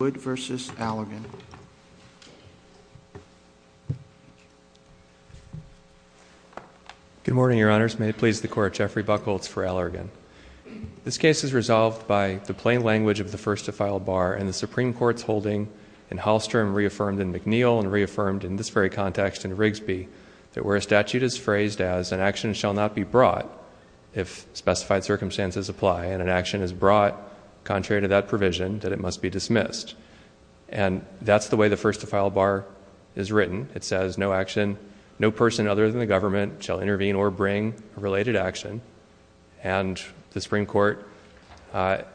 Good morning, Your Honors. May it please the Court, Jeffrey Buchholz for Allergan. This case is resolved by the plain language of the first to file bar and the Supreme Court's holding in Hallstrom reaffirmed in McNeil and reaffirmed in this very context in Rigsby that where a statute is phrased as an action shall not be brought if specified circumstances apply and an action is brought contrary to that provision that it must be dismissed. And that's the way the first to file bar is written. It says no action, no person other than the government shall intervene or bring related action. And the Supreme Court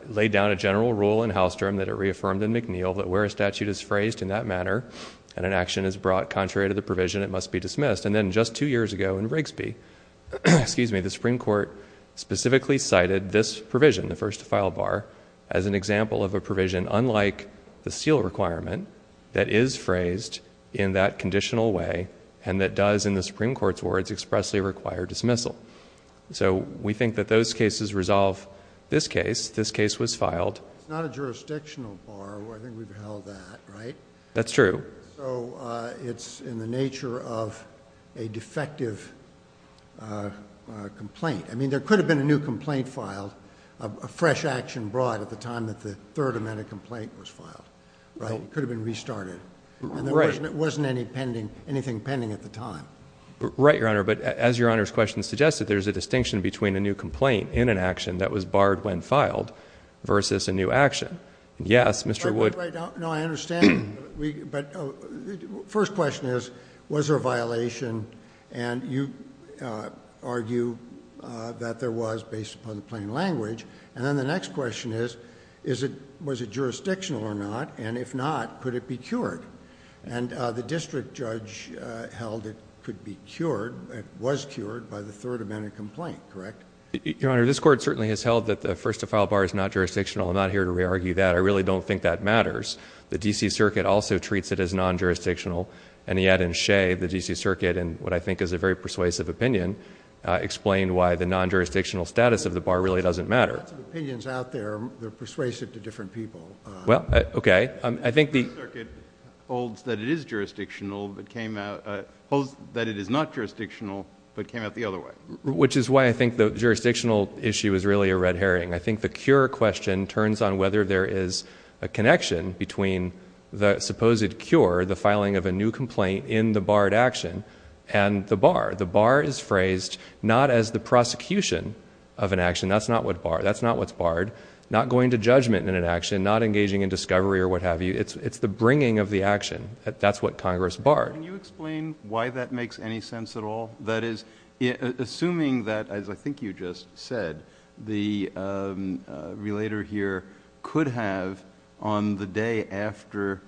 laid down a general rule in Hallstrom that it reaffirmed in McNeil that where a statute is phrased in that manner and an action is brought contrary to the provision, it must be dismissed. And then just two years ago in Rigsby, the Supreme Court specifically cited this provision, the first to file bar, as an example of a provision unlike the seal requirement that is phrased in that conditional way and that does in the Supreme Court's words expressly require dismissal. So we think that those cases resolve this case. This case was filed... It's not a jurisdictional bar. I think we've held that, right? That's true. So it's in the nature of a defective complaint. I mean, there could have been a new complaint filed, a fresh action brought at the time that the third amendment complaint was filed, right? It could have been restarted. Right. And there wasn't anything pending at the time. Right, Your Honor. But as Your Honor's question suggested, there's a distinction between a new complaint in an action that was barred when filed versus a new action. Yes, Mr. Wood... First question is, was there a violation? And you argue that there was based upon the plain language. And then the next question is, was it jurisdictional or not? And if not, could it be cured? And the district judge held it could be cured, it was cured by the third amendment complaint, correct? Your Honor, this Court certainly has held that the first to file bar is not jurisdictional. I'm not here to re-argue that. I really don't think that matters. The D.C. Circuit also says it's non-jurisdictional. And yet in Shea, the D.C. Circuit, in what I think is a very persuasive opinion, explained why the non-jurisdictional status of the bar really doesn't matter. There are lots of opinions out there that persuade it to different people. Well, okay. I think the... The D.C. Circuit holds that it is jurisdictional, but came out... holds that it is not jurisdictional, but came out the other way. Which is why I think the jurisdictional issue is really a red herring. I think the cure for the filing of a new complaint in the barred action... and the bar. The bar is phrased not as the prosecution of an action. That's not what's barred. Not going to judgment in an action, not engaging in discovery or what have you. It's the bringing of the action. That's what Congress barred. Can you explain why that makes any sense at all? That is, assuming that, as I think you just said, the relator here could have, on the day after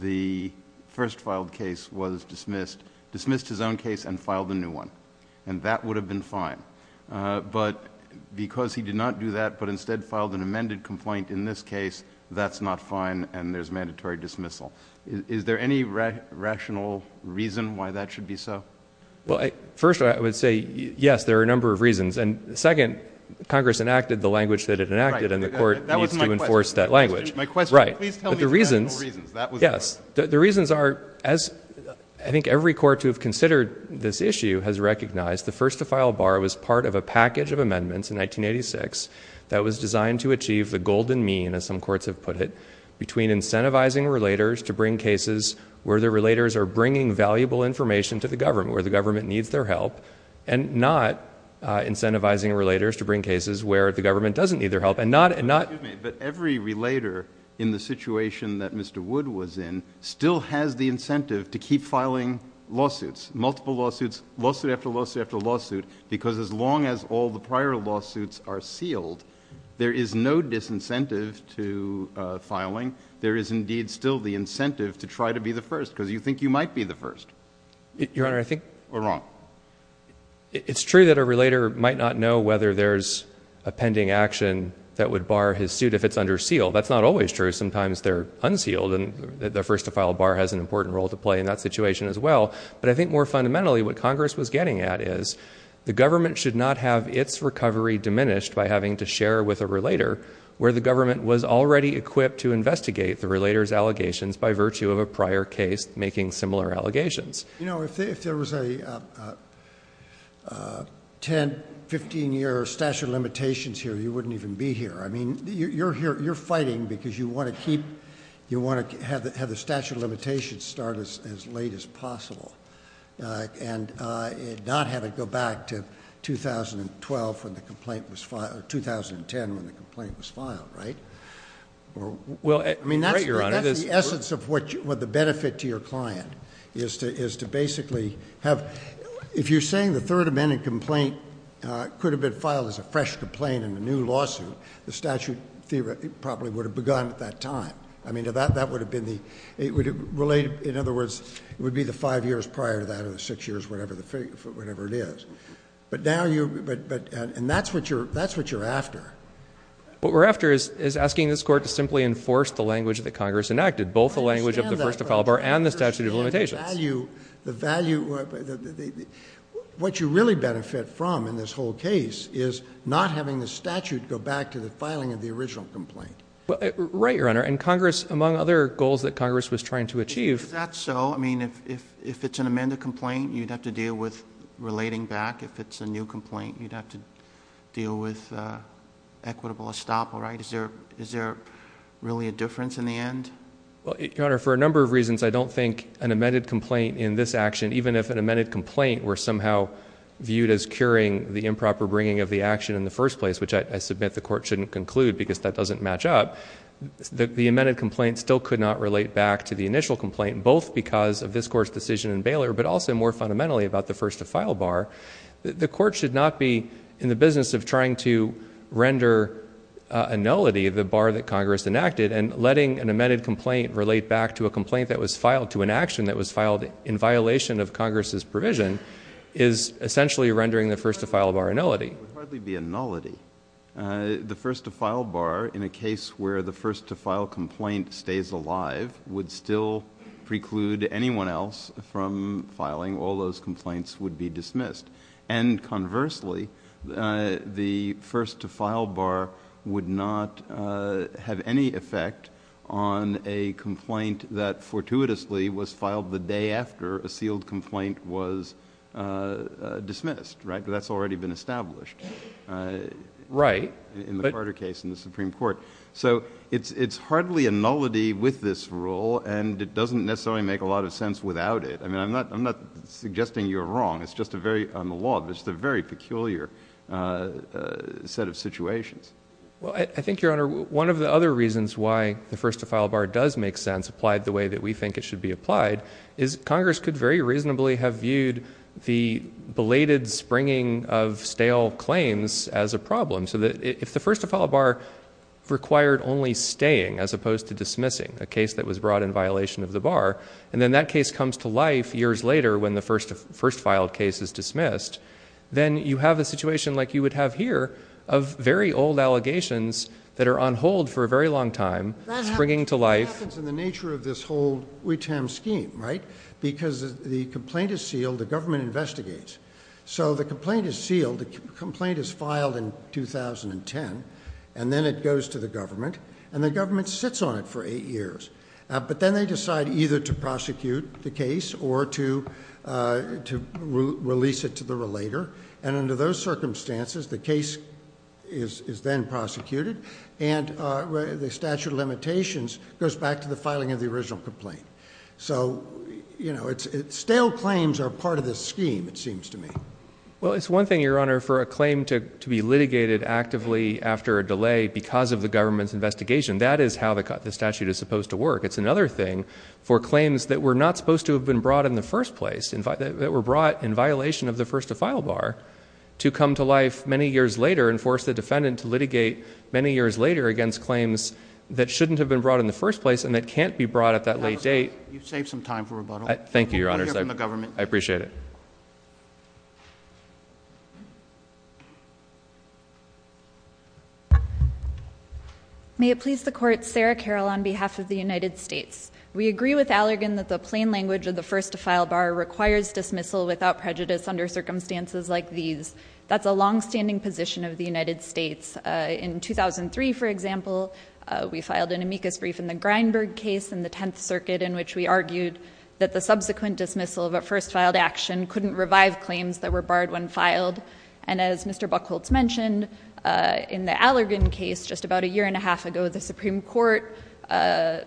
the first filed case was dismissed, dismissed his own case and filed a new one. That would have been fine. Because he did not do that, but instead filed an amended complaint in this case, that's not fine and there's mandatory dismissal. Is there any rational reason why that should be so? Well, first I would say, yes, there are a number of reasons. And second, Congress enacted the language that it enacted and the court needs to enforce that language. That was my question. Right. Please tell me the actual reasons. Yes. The reasons are, as I think every court to have considered this issue has recognized, the first to file a bar was part of a package of amendments in 1986 that was designed to achieve the golden mean, as some courts have put it, between incentivizing relators to the government, where the government needs their help, and not incentivizing relators to bring cases where the government doesn't need their help and not Excuse me, but every relator in the situation that Mr. Wood was in still has the incentive to keep filing lawsuits, multiple lawsuits, lawsuit after lawsuit after lawsuit, because as long as all the prior lawsuits are sealed, there is no disincentive to filing. There is indeed still the incentive to try to be the first, because you think you might be the first. Your Honor, I think We're wrong. It's true that a relator might not know whether there's a pending action that would bar his suit if it's under seal. That's not always true. Sometimes they're unsealed and the first to file a bar has an important role to play in that situation as well. But I think more fundamentally what Congress was getting at is the government should not have its recovery diminished by having to share with a relator where the government was already equipped to investigate the relator's allegations by virtue of a prior case making similar allegations. You know, if there was a 10, 15 year statute of limitations here, you wouldn't even be here. I mean, you're here, you're fighting because you want to keep, you want to have the statute of limitations started as late as possible and not have it go back to 2012 when the complaint was filed, 2010 when the complaint was filed, right? Well, I mean, that's the essence of what the benefit to your client is to basically have, if you're saying the third amendment complaint could have been filed as a fresh complaint in the new lawsuit, the statute probably would have begun at that time. I mean, that would have been the, it would have related, in other words, it would be the five years prior to the six years, whatever the figure, whatever it is. But now you, but, but, and that's what you're, that's what you're after. What we're after is, is asking this court to simply enforce the language that Congress enacted, both the language of the first to file bar and the statute of limitations. The value, the value, what you really benefit from in this whole case is not having the statute go back to the filing of the original complaint. Well, right, your honor. And Congress, among other goals that Congress was trying to achieve. If that's so, I mean, if, if, if it's an amended complaint, you'd have to deal with relating back. If it's a new complaint, you'd have to deal with equitable estoppel, right? Is there, is there really a difference in the end? Well, your honor, for a number of reasons, I don't think an amended complaint in this action, even if an amended complaint were somehow viewed as curing the improper bringing of the action in the first place, which I submit the court shouldn't conclude because that doesn't match up, the, the amended complaint still could not relate back to the initial complaint, both because of this court's decision in Baylor, but also more fundamentally about the first to file bar. The court should not be in the business of trying to render a nullity of the bar that Congress enacted and letting an amended complaint relate back to a complaint that was filed to an action that was filed in violation of Congress's provision is essentially rendering the first to file bar a nullity. It would hardly be a nullity. The first to file bar in a case where the first to file complaint stays alive would still preclude anyone else from filing. All those complaints would be dismissed. And conversely, uh, the first to file bar would not, uh, have any effect on a complaint that fortuitously was filed the day after a sealed complaint was, uh, uh, dismissed, right? But that's already been established, uh, in the Carter case in the Supreme Court. So it's, it's hardly a nullity with this rule and it doesn't necessarily make a lot of sense without it. I mean, I'm not, I'm not suggesting you're wrong. It's just a very, on the law, there's the very peculiar, uh, uh, set of situations. Well, I think your honor, one of the other reasons why the first to file bar does make sense applied the way that we think it should be applied is Congress could very reasonably have viewed the belated springing of stale claims as a problem. So that if the first to file bar required only staying as opposed to dismissing a case that was brought in violation of the bar, and then that case comes to life years later when the first to first filed case is dismissed, then you have a situation like you would have here of very old allegations that are on hold for a very long time, springing to life in the nature of this whole we term scheme, right? Because the complaint is sealed, the government investigates. So the complaint is sealed. The complaint is filed in 2010 and then it goes to the government and the government sits on it for eight years. Uh, but then they decide either to prosecute the case or to, uh, to release it to the relator. And under those circumstances, the case is, is then prosecuted. And, uh, the statute of limitations goes back to the filing of the original complaint. So, you know, it's, it's stale claims are part of this scheme. It seems to me. Well, it's one thing, your honor, for a claim to be litigated actively after a delay because of the government's investigation. That is how the cut, the statute is supposed to work. It's another thing for claims that were not supposed to have been brought in the first place and that were brought in violation of the first to file bar to come to life many years later and force the defendant to litigate many years later against claims that shouldn't have been brought in the first place and that can't be brought at that late date. You've got a question. May it please the court. Sarah Carol on behalf of the United States. We agree with Allergan that the plain language of the first to file bar requires dismissal without prejudice under circumstances like these. That's a longstanding position of the United States. Uh, in 2003 for example, uh, we filed an amicus brief in the Grindberg case and the 10th circuit in which we argued that the subsequent dismissal of a first filed action couldn't revive claims that were barred when filed. And as Mr. Buchholz mentioned, uh, in the Allergan case just about a year and a half ago, the Supreme court, uh,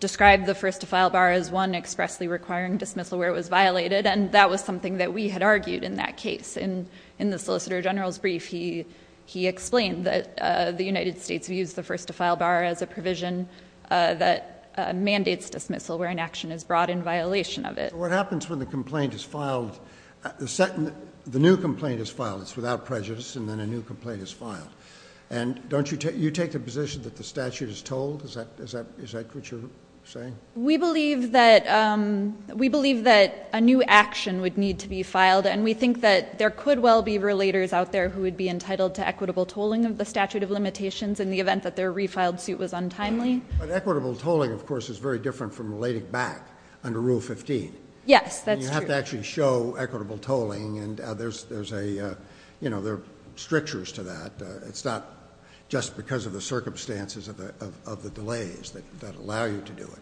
described the first to file bar as one expressly requiring dismissal where it was violated. And that was something that we had argued in that case. In, in the solicitor general's brief, he, he explained that, uh, the United States views the first to file bar as a provision, uh, that, uh, mandates dismissal where an action is brought in violation of it. What happens when the complaint is filed? The second, the new complaint is filed. It's without prejudice. And then a new complaint is filed. And don't you take, you take the position that the statute is told, is that, is that, is that what you're saying? We believe that, um, we believe that a new action would need to be filed. And we think that there could well be relators out there who would be entitled to equitable tolling of the statute of limitations in the event that their refiled suit was untimely. Equitable tolling of course is very different from relating back under rule 15. Yes, that's true. You have to actually show equitable tolling and others. There's a, uh, you know, there are strictures to that. Uh, it's not just because of the circumstances of the, of, of the delays that allow you to do it.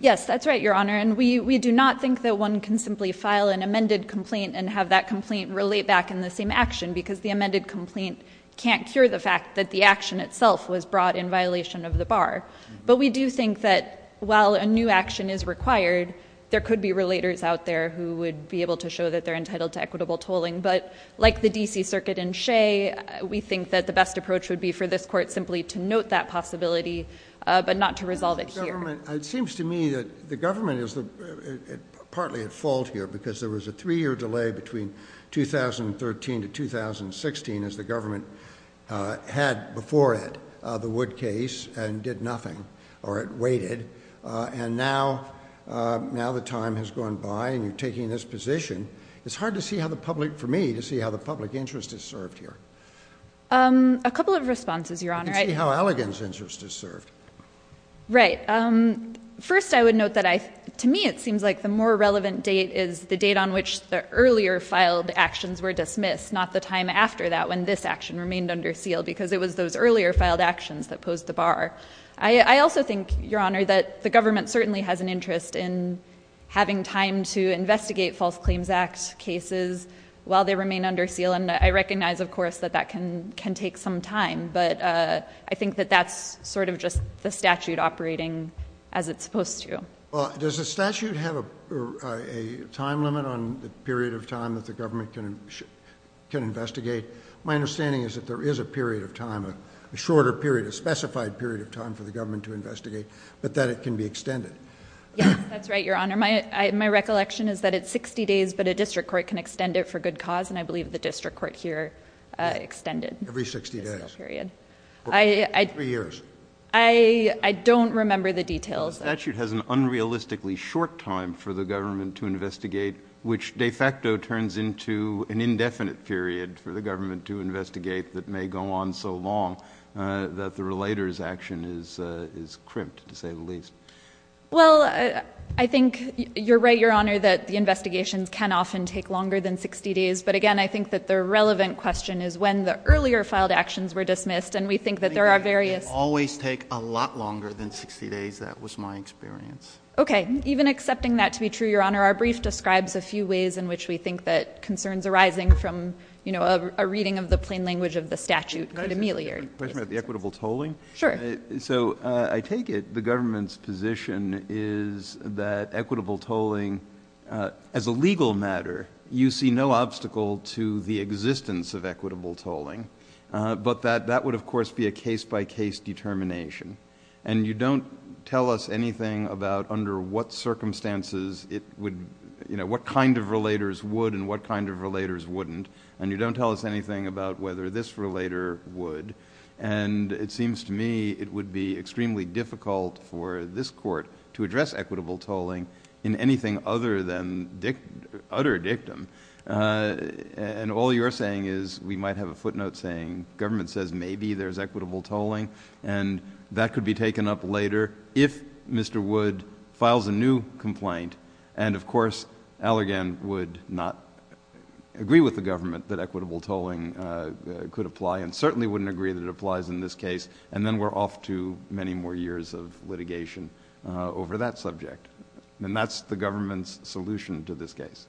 Yes, that's right, your honor. And we, we do not think that one can simply file an amended complaint and have that complaint relate back in the same action because the amended complaint can't cure the fact that the action itself was brought in violation of the bar. But we do think that while a new action is required, there could be relators out there who would be able to show that they're entitled to equitable tolling. But like the DC circuit in Shea, we think that the best approach would be for this court simply to note that possibility, uh, but not to resolve it here. It seems to me that the government is partly at fault here because there was a three year delay between 2013 to 2016 as the government, uh, had before it, uh, the wood case and did nothing or it waited. Uh, and now, uh, now the time has gone by and you're taking this position. It's hard to see how the public, for me to see how the public interest is served here. Um, a couple of responses, your honor, how elegance interest is served. Right. Um, first I would note that I, to me it seems like the more relevant date is the date on which the earlier filed actions were dismissed, not the time after that when this action remained under seal because it was those earlier filed actions that posed the bar. I also think your honor that the government certainly has an interest in having time to investigate false claims act cases while they remain under seal. And I recognize of course that that can, can take some time. But, uh, I think that that's sort of just the statute operating as it's of time that the government can, can investigate. My understanding is that there is a period of time, a shorter period, a specified period of time for the government to investigate, but that it can be extended. That's right. Your honor. My, my recollection is that it's 60 days, but a district court can extend it for good cause. And I believe the district court here, uh, extended every 60 days period. I, I, I don't remember the details. The statute has an unrealistically short time for the government to investigate, which de facto turns into an indefinite period for the government to investigate that may go on so long, uh, that the relators action is, uh, is crimped to say the least. Well, I think you're right, your honor, that the investigations can often take longer than 60 days. But again, I think that the relevant question is when the earlier filed actions were dismissed. And we think that there are various, always take a lot longer than 60 days. That was my experience. Okay. Even accepting that to be true, your honor, our brief describes a few ways in which we think that concerns arising from, you know, a reading of the plain language of the statute could ameliorate the equitable tolling. Sure. So, uh, I take it the government's position is that equitable tolling, uh, as a legal matter, you see no obstacle to the existence of equitable tolling. Uh, but that, that would of course be a case by case determination. And you don't tell us anything about under what circumstances it would, you know, what kind of relators would and what kind of relators wouldn't. And you don't tell us anything about whether this relator would. And it seems to me it would be extremely difficult for this court to address equitable tolling in anything other than Dick utter dictum. Uh, and all you're saying is we might have a footnote saying government says maybe there's equitable tolling and that could be taken up later if Mr. Wood files a new complaint. And of course Allergan would not agree with the government that equitable tolling, uh, could apply and certainly wouldn't agree that it applies in this case. And then we're off to many more years of litigation, uh, over that subject. And that's the government's solution to this case.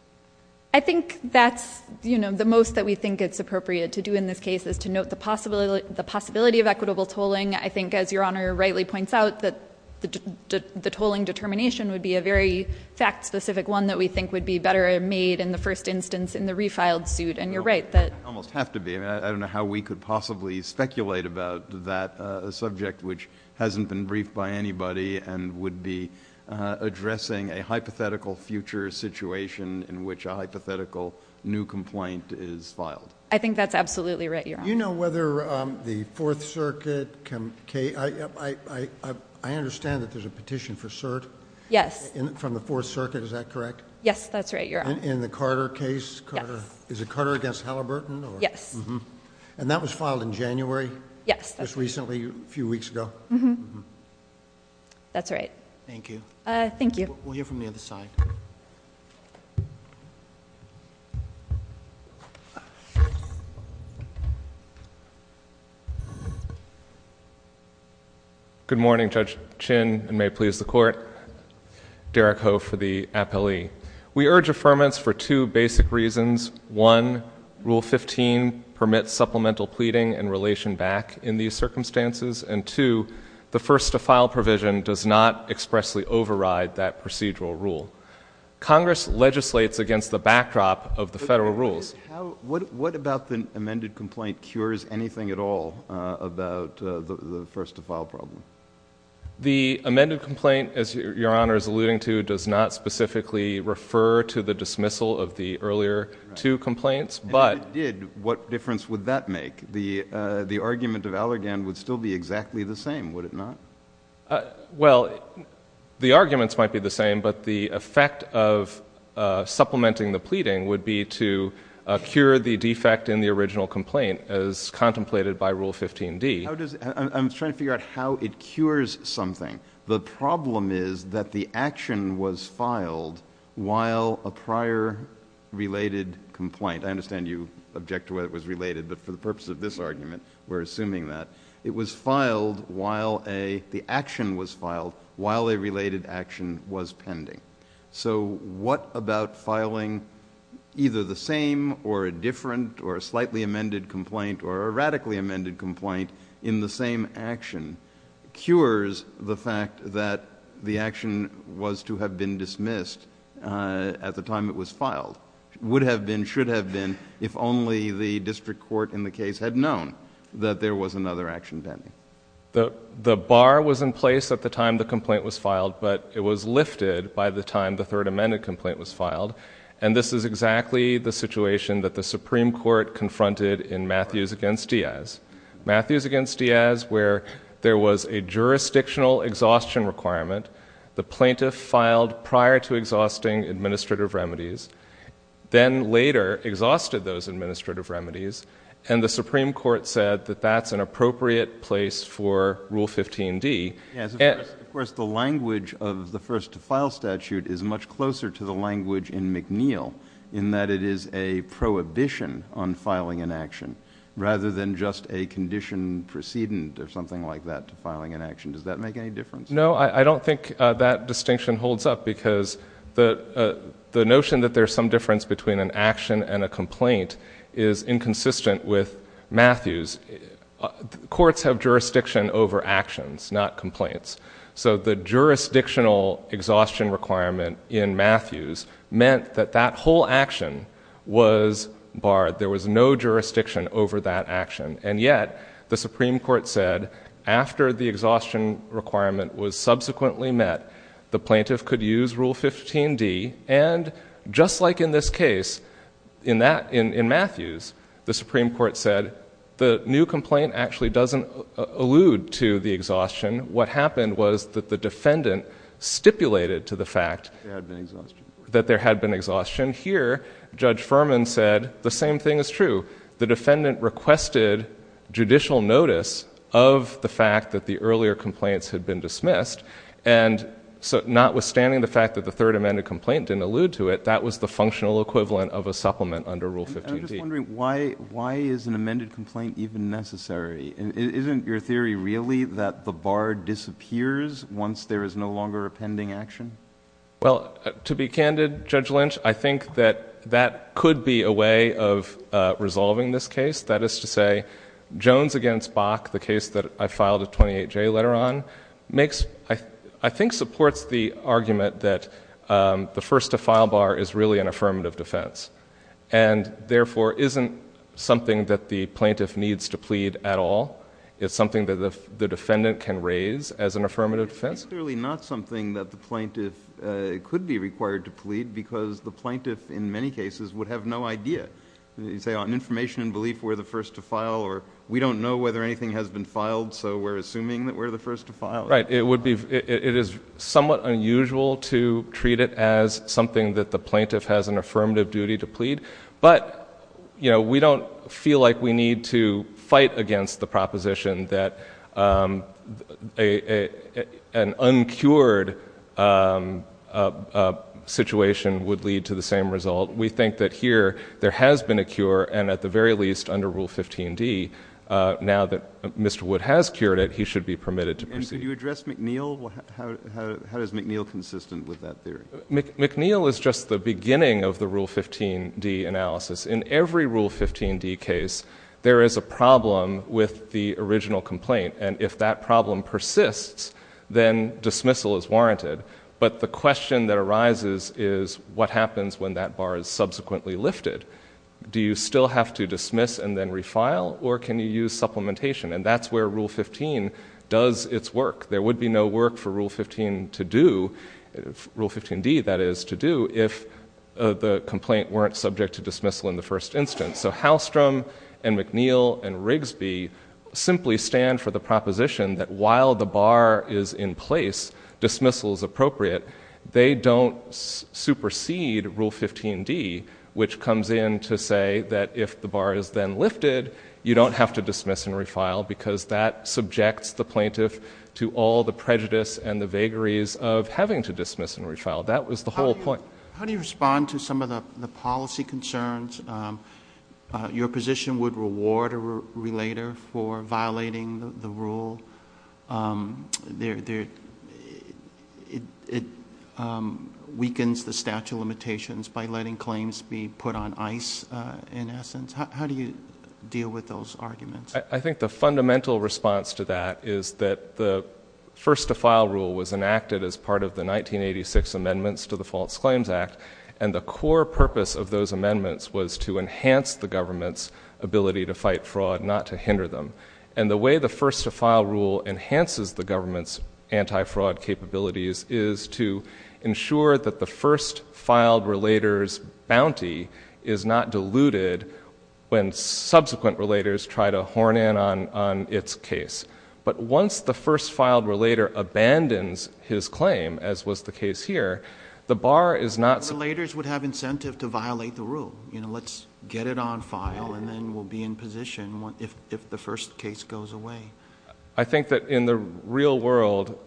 I think that's, you know, the most that we think it's appropriate to do in this case is to note the possibility, the possibility of equitable tolling. I think as Your Honor rightly points out that the, the, the tolling determination would be a very fact specific one that we think would be better made in the first instance in the refiled suit. And you're right that Almost have to be, I don't know how we could possibly speculate about that, uh, subject which hasn't been briefed by anybody and would be, uh, addressing a hypothetical future situation in which a hypothetical new complaint is filed. I think that's absolutely right, Your Honor. You know whether, um, the Fourth Circuit can, I, I, I, I understand that there's a petition for cert Yes. From the Fourth Circuit, is that correct? Yes, that's right, Your Honor. In the Carter case? Yes. Carter, is it Carter against Halliburton or Yes. Mm-hmm. And that was filed in January? Yes, that's right. Just recently, a few weeks ago? Mm-hmm. Mm-hmm. That's right. Thank you. Uh, thank you. We'll hear from the other side. There's one more. Thank you. Good morning, Judge Chin, and may it please the Court. Derek Ho for the appellee. We urge affirmance for two basic reasons. One, Rule 15 permits supplemental pleading and relation back in these circumstances, and two, the first-to-file provision does not expressly override that procedural rule. Congress legislates against the backdrop of the federal rules. What about the amended complaint cures anything at all about the first-to-file problem? The amended complaint, as Your Honor is alluding to, does not specifically refer to the dismissal of the earlier two complaints. If it did, what difference would that make? I think the argument of Allergan would still be exactly the same, would it not? Well, the arguments might be the same, but the effect of supplementing the pleading would be to cure the defect in the original complaint, as contemplated by Rule 15d. I'm trying to figure out how it cures something. The problem is that the action was filed while a prior related complaint— this argument, we're assuming that— it was filed while a—the action was filed while a related action was pending. So what about filing either the same or a different or a slightly amended complaint or a radically amended complaint in the same action cures the fact that the action was to have been dismissed at the time it was filed? Would have been, should have been, if only the district court in the case had known that there was another action pending. The bar was in place at the time the complaint was filed, but it was lifted by the time the third amended complaint was filed, and this is exactly the situation that the Supreme Court confronted in Matthews v. Diaz. Matthews v. Diaz, where there was a jurisdictional exhaustion requirement, the plaintiff filed prior to exhausting administrative remedies, then later exhausted those administrative remedies, and the Supreme Court said that that's an appropriate place for Rule 15d. Yes, of course the language of the first-to-file statute is much closer to the language in McNeil in that it is a prohibition on filing an action rather than just a condition precedent or something like that to filing an action. Does that make any difference? No, I don't think that distinction holds up because the notion that there's some difference between an action and a complaint is inconsistent with Matthews. Courts have jurisdiction over actions, not complaints, so the jurisdictional exhaustion requirement in Matthews meant that that whole action was barred. There was no jurisdiction over that action, and yet the Supreme Court said after the exhaustion requirement was subsequently met, the plaintiff could use Rule 15d, and just like in this case, in Matthews, the Supreme Court said the new complaint actually doesn't allude to the exhaustion. What happened was that the defendant stipulated to the fact that there had been exhaustion. Here, Judge Furman said the same thing is true. The defendant requested judicial notice of the fact that the earlier complaints had been dismissed, and notwithstanding the fact that the third amended complaint didn't allude to it, that was the functional equivalent of a supplement under Rule 15d. I'm just wondering why is an amended complaint even necessary? Isn't your theory really that the bar disappears once there is no longer a pending action? Well, to be candid, Judge Lynch, I think that that could be a way of resolving this case. That is to say, Jones against Bach, the case that I filed a 28J letter on, I think supports the argument that the first to file bar is really an affirmative defense, and therefore isn't something that the plaintiff needs to plead at all. It's something that the defendant can raise as an affirmative defense. It's clearly not something that the plaintiff could be required to plead because the plaintiff in many cases would have no idea. You say on information and belief we're the first to file, or we don't know whether anything has been filed, so we're assuming that we're the first to file. Right. It is somewhat unusual to treat it as something that the plaintiff has an affirmative duty to plead, but we don't feel like we need to fight against the proposition that an uncured situation would lead to the same result. We think that here there has been a cure, and at the very least under Rule 15D, now that Mr. Wood has cured it, he should be permitted to proceed. And could you address McNeil? How is McNeil consistent with that theory? McNeil is just the beginning of the Rule 15D analysis. In every Rule 15D case, there is a problem with the original complaint, and if that problem persists, then dismissal is warranted. But the question that arises is what happens when that bar is subsequently lifted? Do you still have to dismiss and then refile, or can you use supplementation? And that's where Rule 15 does its work. There would be no work for Rule 15D to do if the complaint weren't subject to dismissal in the first instance. So Halstrom and McNeil and Rigsby simply stand for the proposition that while the bar is in place, dismissal is appropriate, they don't supersede Rule 15D, which comes in to say that if the bar is then lifted, you don't have to dismiss and refile because that subjects the plaintiff to all the prejudice and the vagaries of having to dismiss and refile. That was the whole point. How do you respond to some of the policy concerns? Your position would reward a relator for violating the rule. It weakens the statute of limitations by letting claims be put on ice, in essence. How do you deal with those arguments? I think the fundamental response to that is that the first-to-file rule was enacted as part of the 1986 amendments to the False Claims Act, and the core purpose of those amendments was to enhance the government's ability to fight fraud, not to hinder them. And the way the first-to-file rule enhances the government's anti-fraud capabilities is to ensure that the first-filed relator's bounty is not diluted when subsequent relators try to horn in on its case. But once the first-filed relator abandons his claim, as was the case here, the bar is not... Relators would have incentive to violate the rule. Let's get it on file, and then we'll be in position if the first case goes away. I think that in the real world,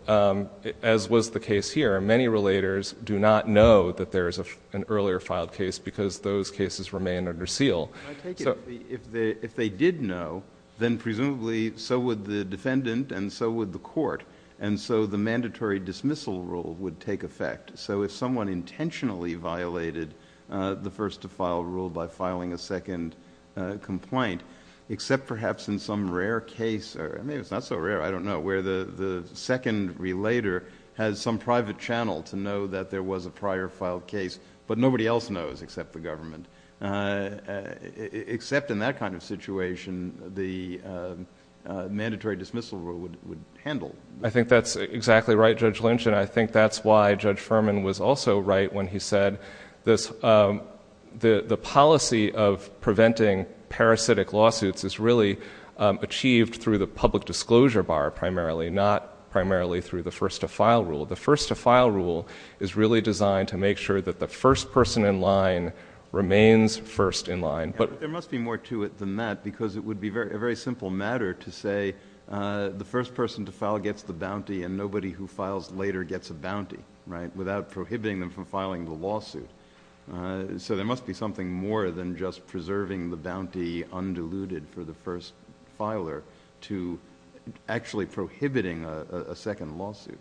as was the case here, many relators do not know that there is an earlier-filed case because those cases remain under seal. If they did know, then presumably so would the defendant and so would the court, and so the mandatory dismissal rule would take effect. So if someone intentionally violated the first-to-file rule by filing a second complaint, except perhaps in some rare case, or maybe it's not so rare, I don't know, where the second relator has some private channel to know that there was a prior-filed case, but nobody else knows except the government. Except in that kind of situation, the mandatory dismissal rule would handle. I think that's exactly right, Judge Lynch, and I think that's why Judge Furman was also right when he said the policy of preventing parasitic lawsuits is really achieved through the public disclosure bar primarily, not primarily through the first-to-file rule. The first-to-file rule is really designed to make sure that the first person in line remains first in line. But there must be more to it than that because it would be a very simple matter to say the first person to file gets the bounty and nobody who files later gets a bounty, right, without prohibiting them from filing the lawsuit. So there must be something more than just preserving the bounty undiluted for the first filer to actually prohibiting a second lawsuit.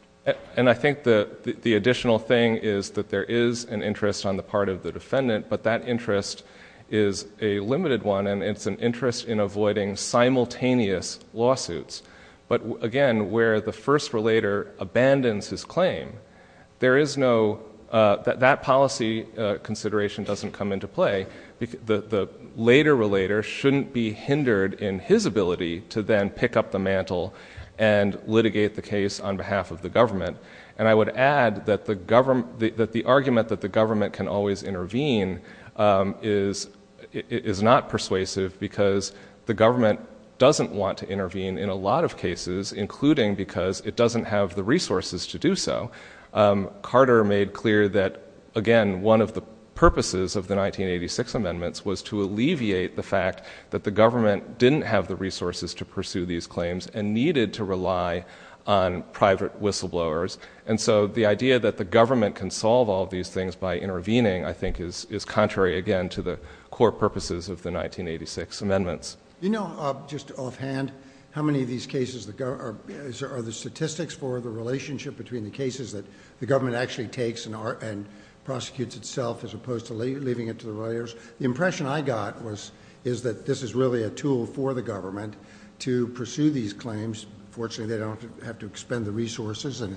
And I think the additional thing is that there is an interest on the part of the defendant, but that interest is a limited one and it's an interest in avoiding simultaneous lawsuits. But again, where the first relator abandons his claim, that policy consideration doesn't come into play. The later relator shouldn't be hindered in his ability to then pick up the mantle and litigate the case on behalf of the government. And I would add that the argument that the government can always intervene is not persuasive because the government doesn't want to intervene in a lot of cases, including because it doesn't have the resources to do so. Carter made clear that, again, one of the purposes of the 1986 amendments was to alleviate the fact that the government didn't have the resources to pursue these claims and needed to rely on private whistleblowers. And so the idea that the government can solve all these things by intervening, I think, is contrary, again, to the core purposes of the 1986 amendments. You know, just offhand, how many of these cases are the statistics for the relationship between the cases that the government actually takes and prosecutes itself as opposed to leaving it to the relators? The impression I got is that this is really a tool for the government to pursue these claims. Fortunately, they don't have to expend the resources, and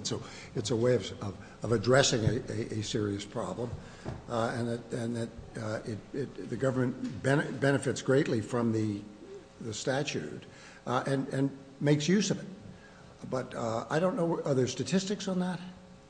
it's a way of addressing a serious problem, and that the government benefits greatly from the statute and makes use of it. But I don't know, are there statistics on that?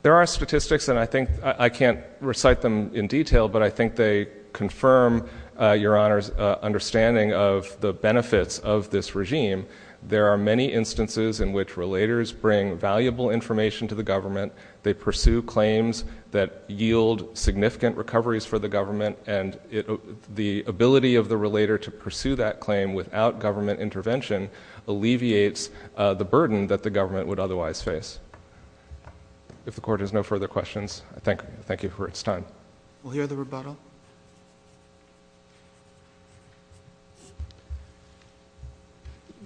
There are statistics, and I think I can't recite them in detail, but I think they confirm Your Honor's understanding of the benefits of this regime. There are many instances in which relators bring valuable information to the government. They pursue claims that yield significant recoveries for the government, and the ability of the relator to pursue that claim without government intervention alleviates the burden that the government would otherwise face. If the Court has no further questions, I thank you for its time. We'll hear the rebuttal.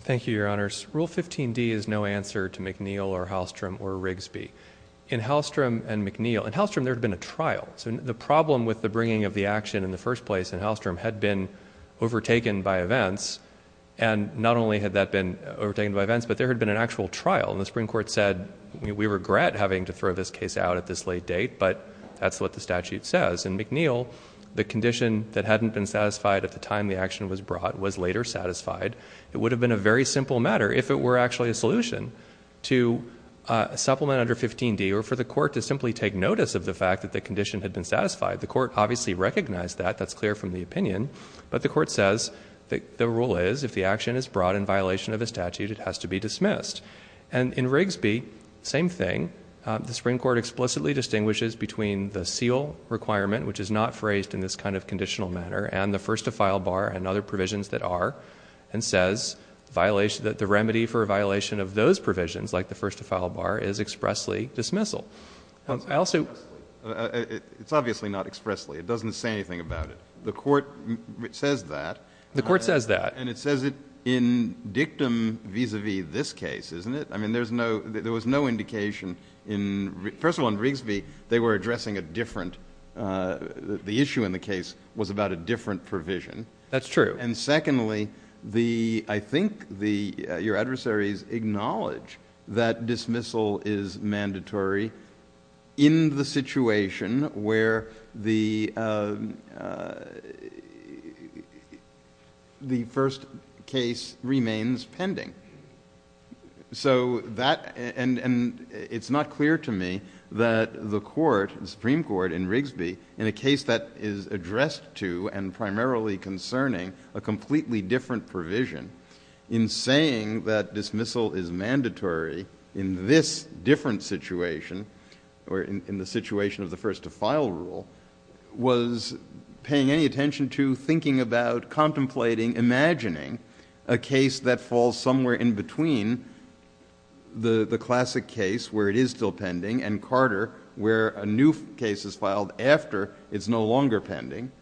Thank you, Your Honors. Rule 15d is no answer to McNeill or Hallstrom or Rigsby. In Hallstrom and McNeill, in Hallstrom there had been a trial, so the problem with the bringing of the action in the first place in Hallstrom had been overtaken by events, and not only had that been overtaken by events, but there had been an actual trial. And the Supreme Court said, we regret having to throw this case out at this late date, but that's what the statute says. In McNeill, the condition that hadn't been satisfied at the time the action was brought was later satisfied. It would have been a very simple matter, if it were actually a solution, to supplement under 15d or for the Court to simply take notice of the fact that the condition had been satisfied. The Court obviously recognized that. That's clear from the opinion. But the Court says that the rule is, if the action is brought in violation of the statute, it has to be dismissed. And in Rigsby, same thing. The Supreme Court explicitly distinguishes between the seal requirement, which is not phrased in this kind of conditional manner, and the first-to-file bar and other provisions that are, and says that the remedy for a violation of those provisions, like the first-to-file bar, is expressly dismissal. I also — It's obviously not expressly. It doesn't say anything about it. The Court says that. The Court says that. And it says it in dictum vis-à-vis this case, isn't it? I mean, there's no — there was no indication in — first of all, in Rigsby, they were addressing a different — the issue in the case was about a different provision. That's true. And secondly, the — I think the — your adversaries acknowledge that dismissal is mandatory in the situation where the first case remains pending. So that — and it's not clear to me that the Court, the Supreme Court in Rigsby, in a case that is addressed to and primarily concerning a completely different provision, in saying that dismissal is mandatory in this different situation, or in the situation of the first-to-file rule, was paying any attention to thinking about, contemplating, imagining a case that falls somewhere in between the classic case, where it is still pending, and Carter, where a new case is filed after it's no longer pending.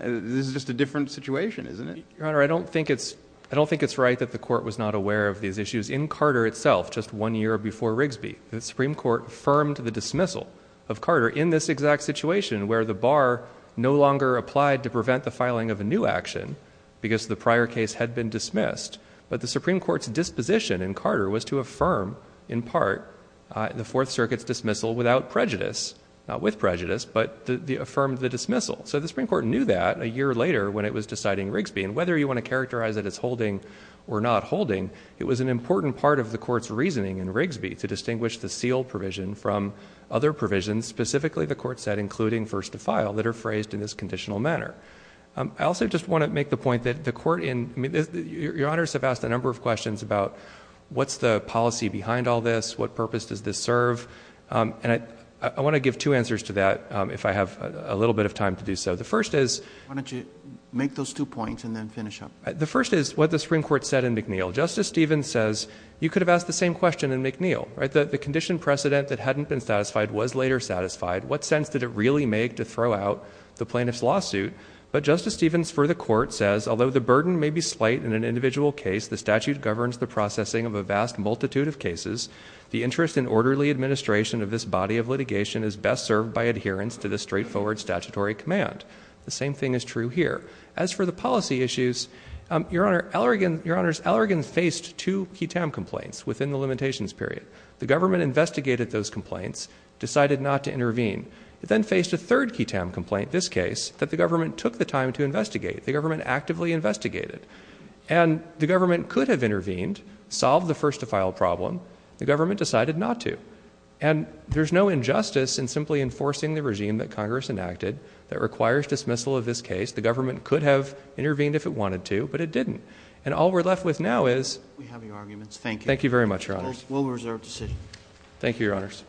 This is just a different situation, isn't it? Your Honor, I don't think it's — I don't think it's right that the Court was not aware of these issues. In Carter itself, just one year before Rigsby, the Supreme Court affirmed the dismissal of Carter in this exact situation, where the bar no longer applied to prevent the filing of a new action because the prior case had been dismissed. But the Supreme Court's disposition in Carter was to affirm, in part, the Fourth Circuit's dismissal without prejudice — not with prejudice, but affirmed the dismissal. So the Supreme Court knew that a year later when it was deciding Rigsby. And whether you want to characterize it as holding or not holding, it was an important part of the Court's reasoning in Rigsby to distinguish the seal provision from other provisions, specifically, the Court said, including first to file, that are phrased in this conditional manner. I also just want to make the point that the Court in — Your Honors have asked a number of questions about what's the policy behind all this? What purpose does this serve? And I want to give two answers to that, if I have a little bit of time to do so. The first is — Why don't you make those two points and then finish up? The first is what the Supreme Court said in McNeil. Justice Stevens says you could have asked the same question in McNeil, right? The conditioned precedent that hadn't been satisfied was later satisfied. What sense did it really make to throw out the plaintiff's lawsuit? But Justice Stevens, for the Court, says, although the burden may be slight in an individual case, the statute governs the processing of a vast multitude of cases. The interest in orderly administration of this body of litigation is best served by adherence to the straightforward statutory command. The same thing is true here. As for the policy issues, Your Honor, Allergan — Your Honors, Allergan faced two QITAM complaints within the limitations period. The government investigated those complaints, decided not to intervene. It then faced a third QITAM complaint, this case, that the government took the time to investigate. The government actively investigated. And the government could have intervened, solved the first-to-file problem. The government decided not to. And there's no injustice in simply enforcing the regime that Congress enacted that requires dismissal of this case. The government could have intervened if it wanted to, but it didn't. And all we're left with now is — We have your arguments. Thank you. Thank you very much, Your Honors. We'll reserve the sitting. Thank you, Your Honors.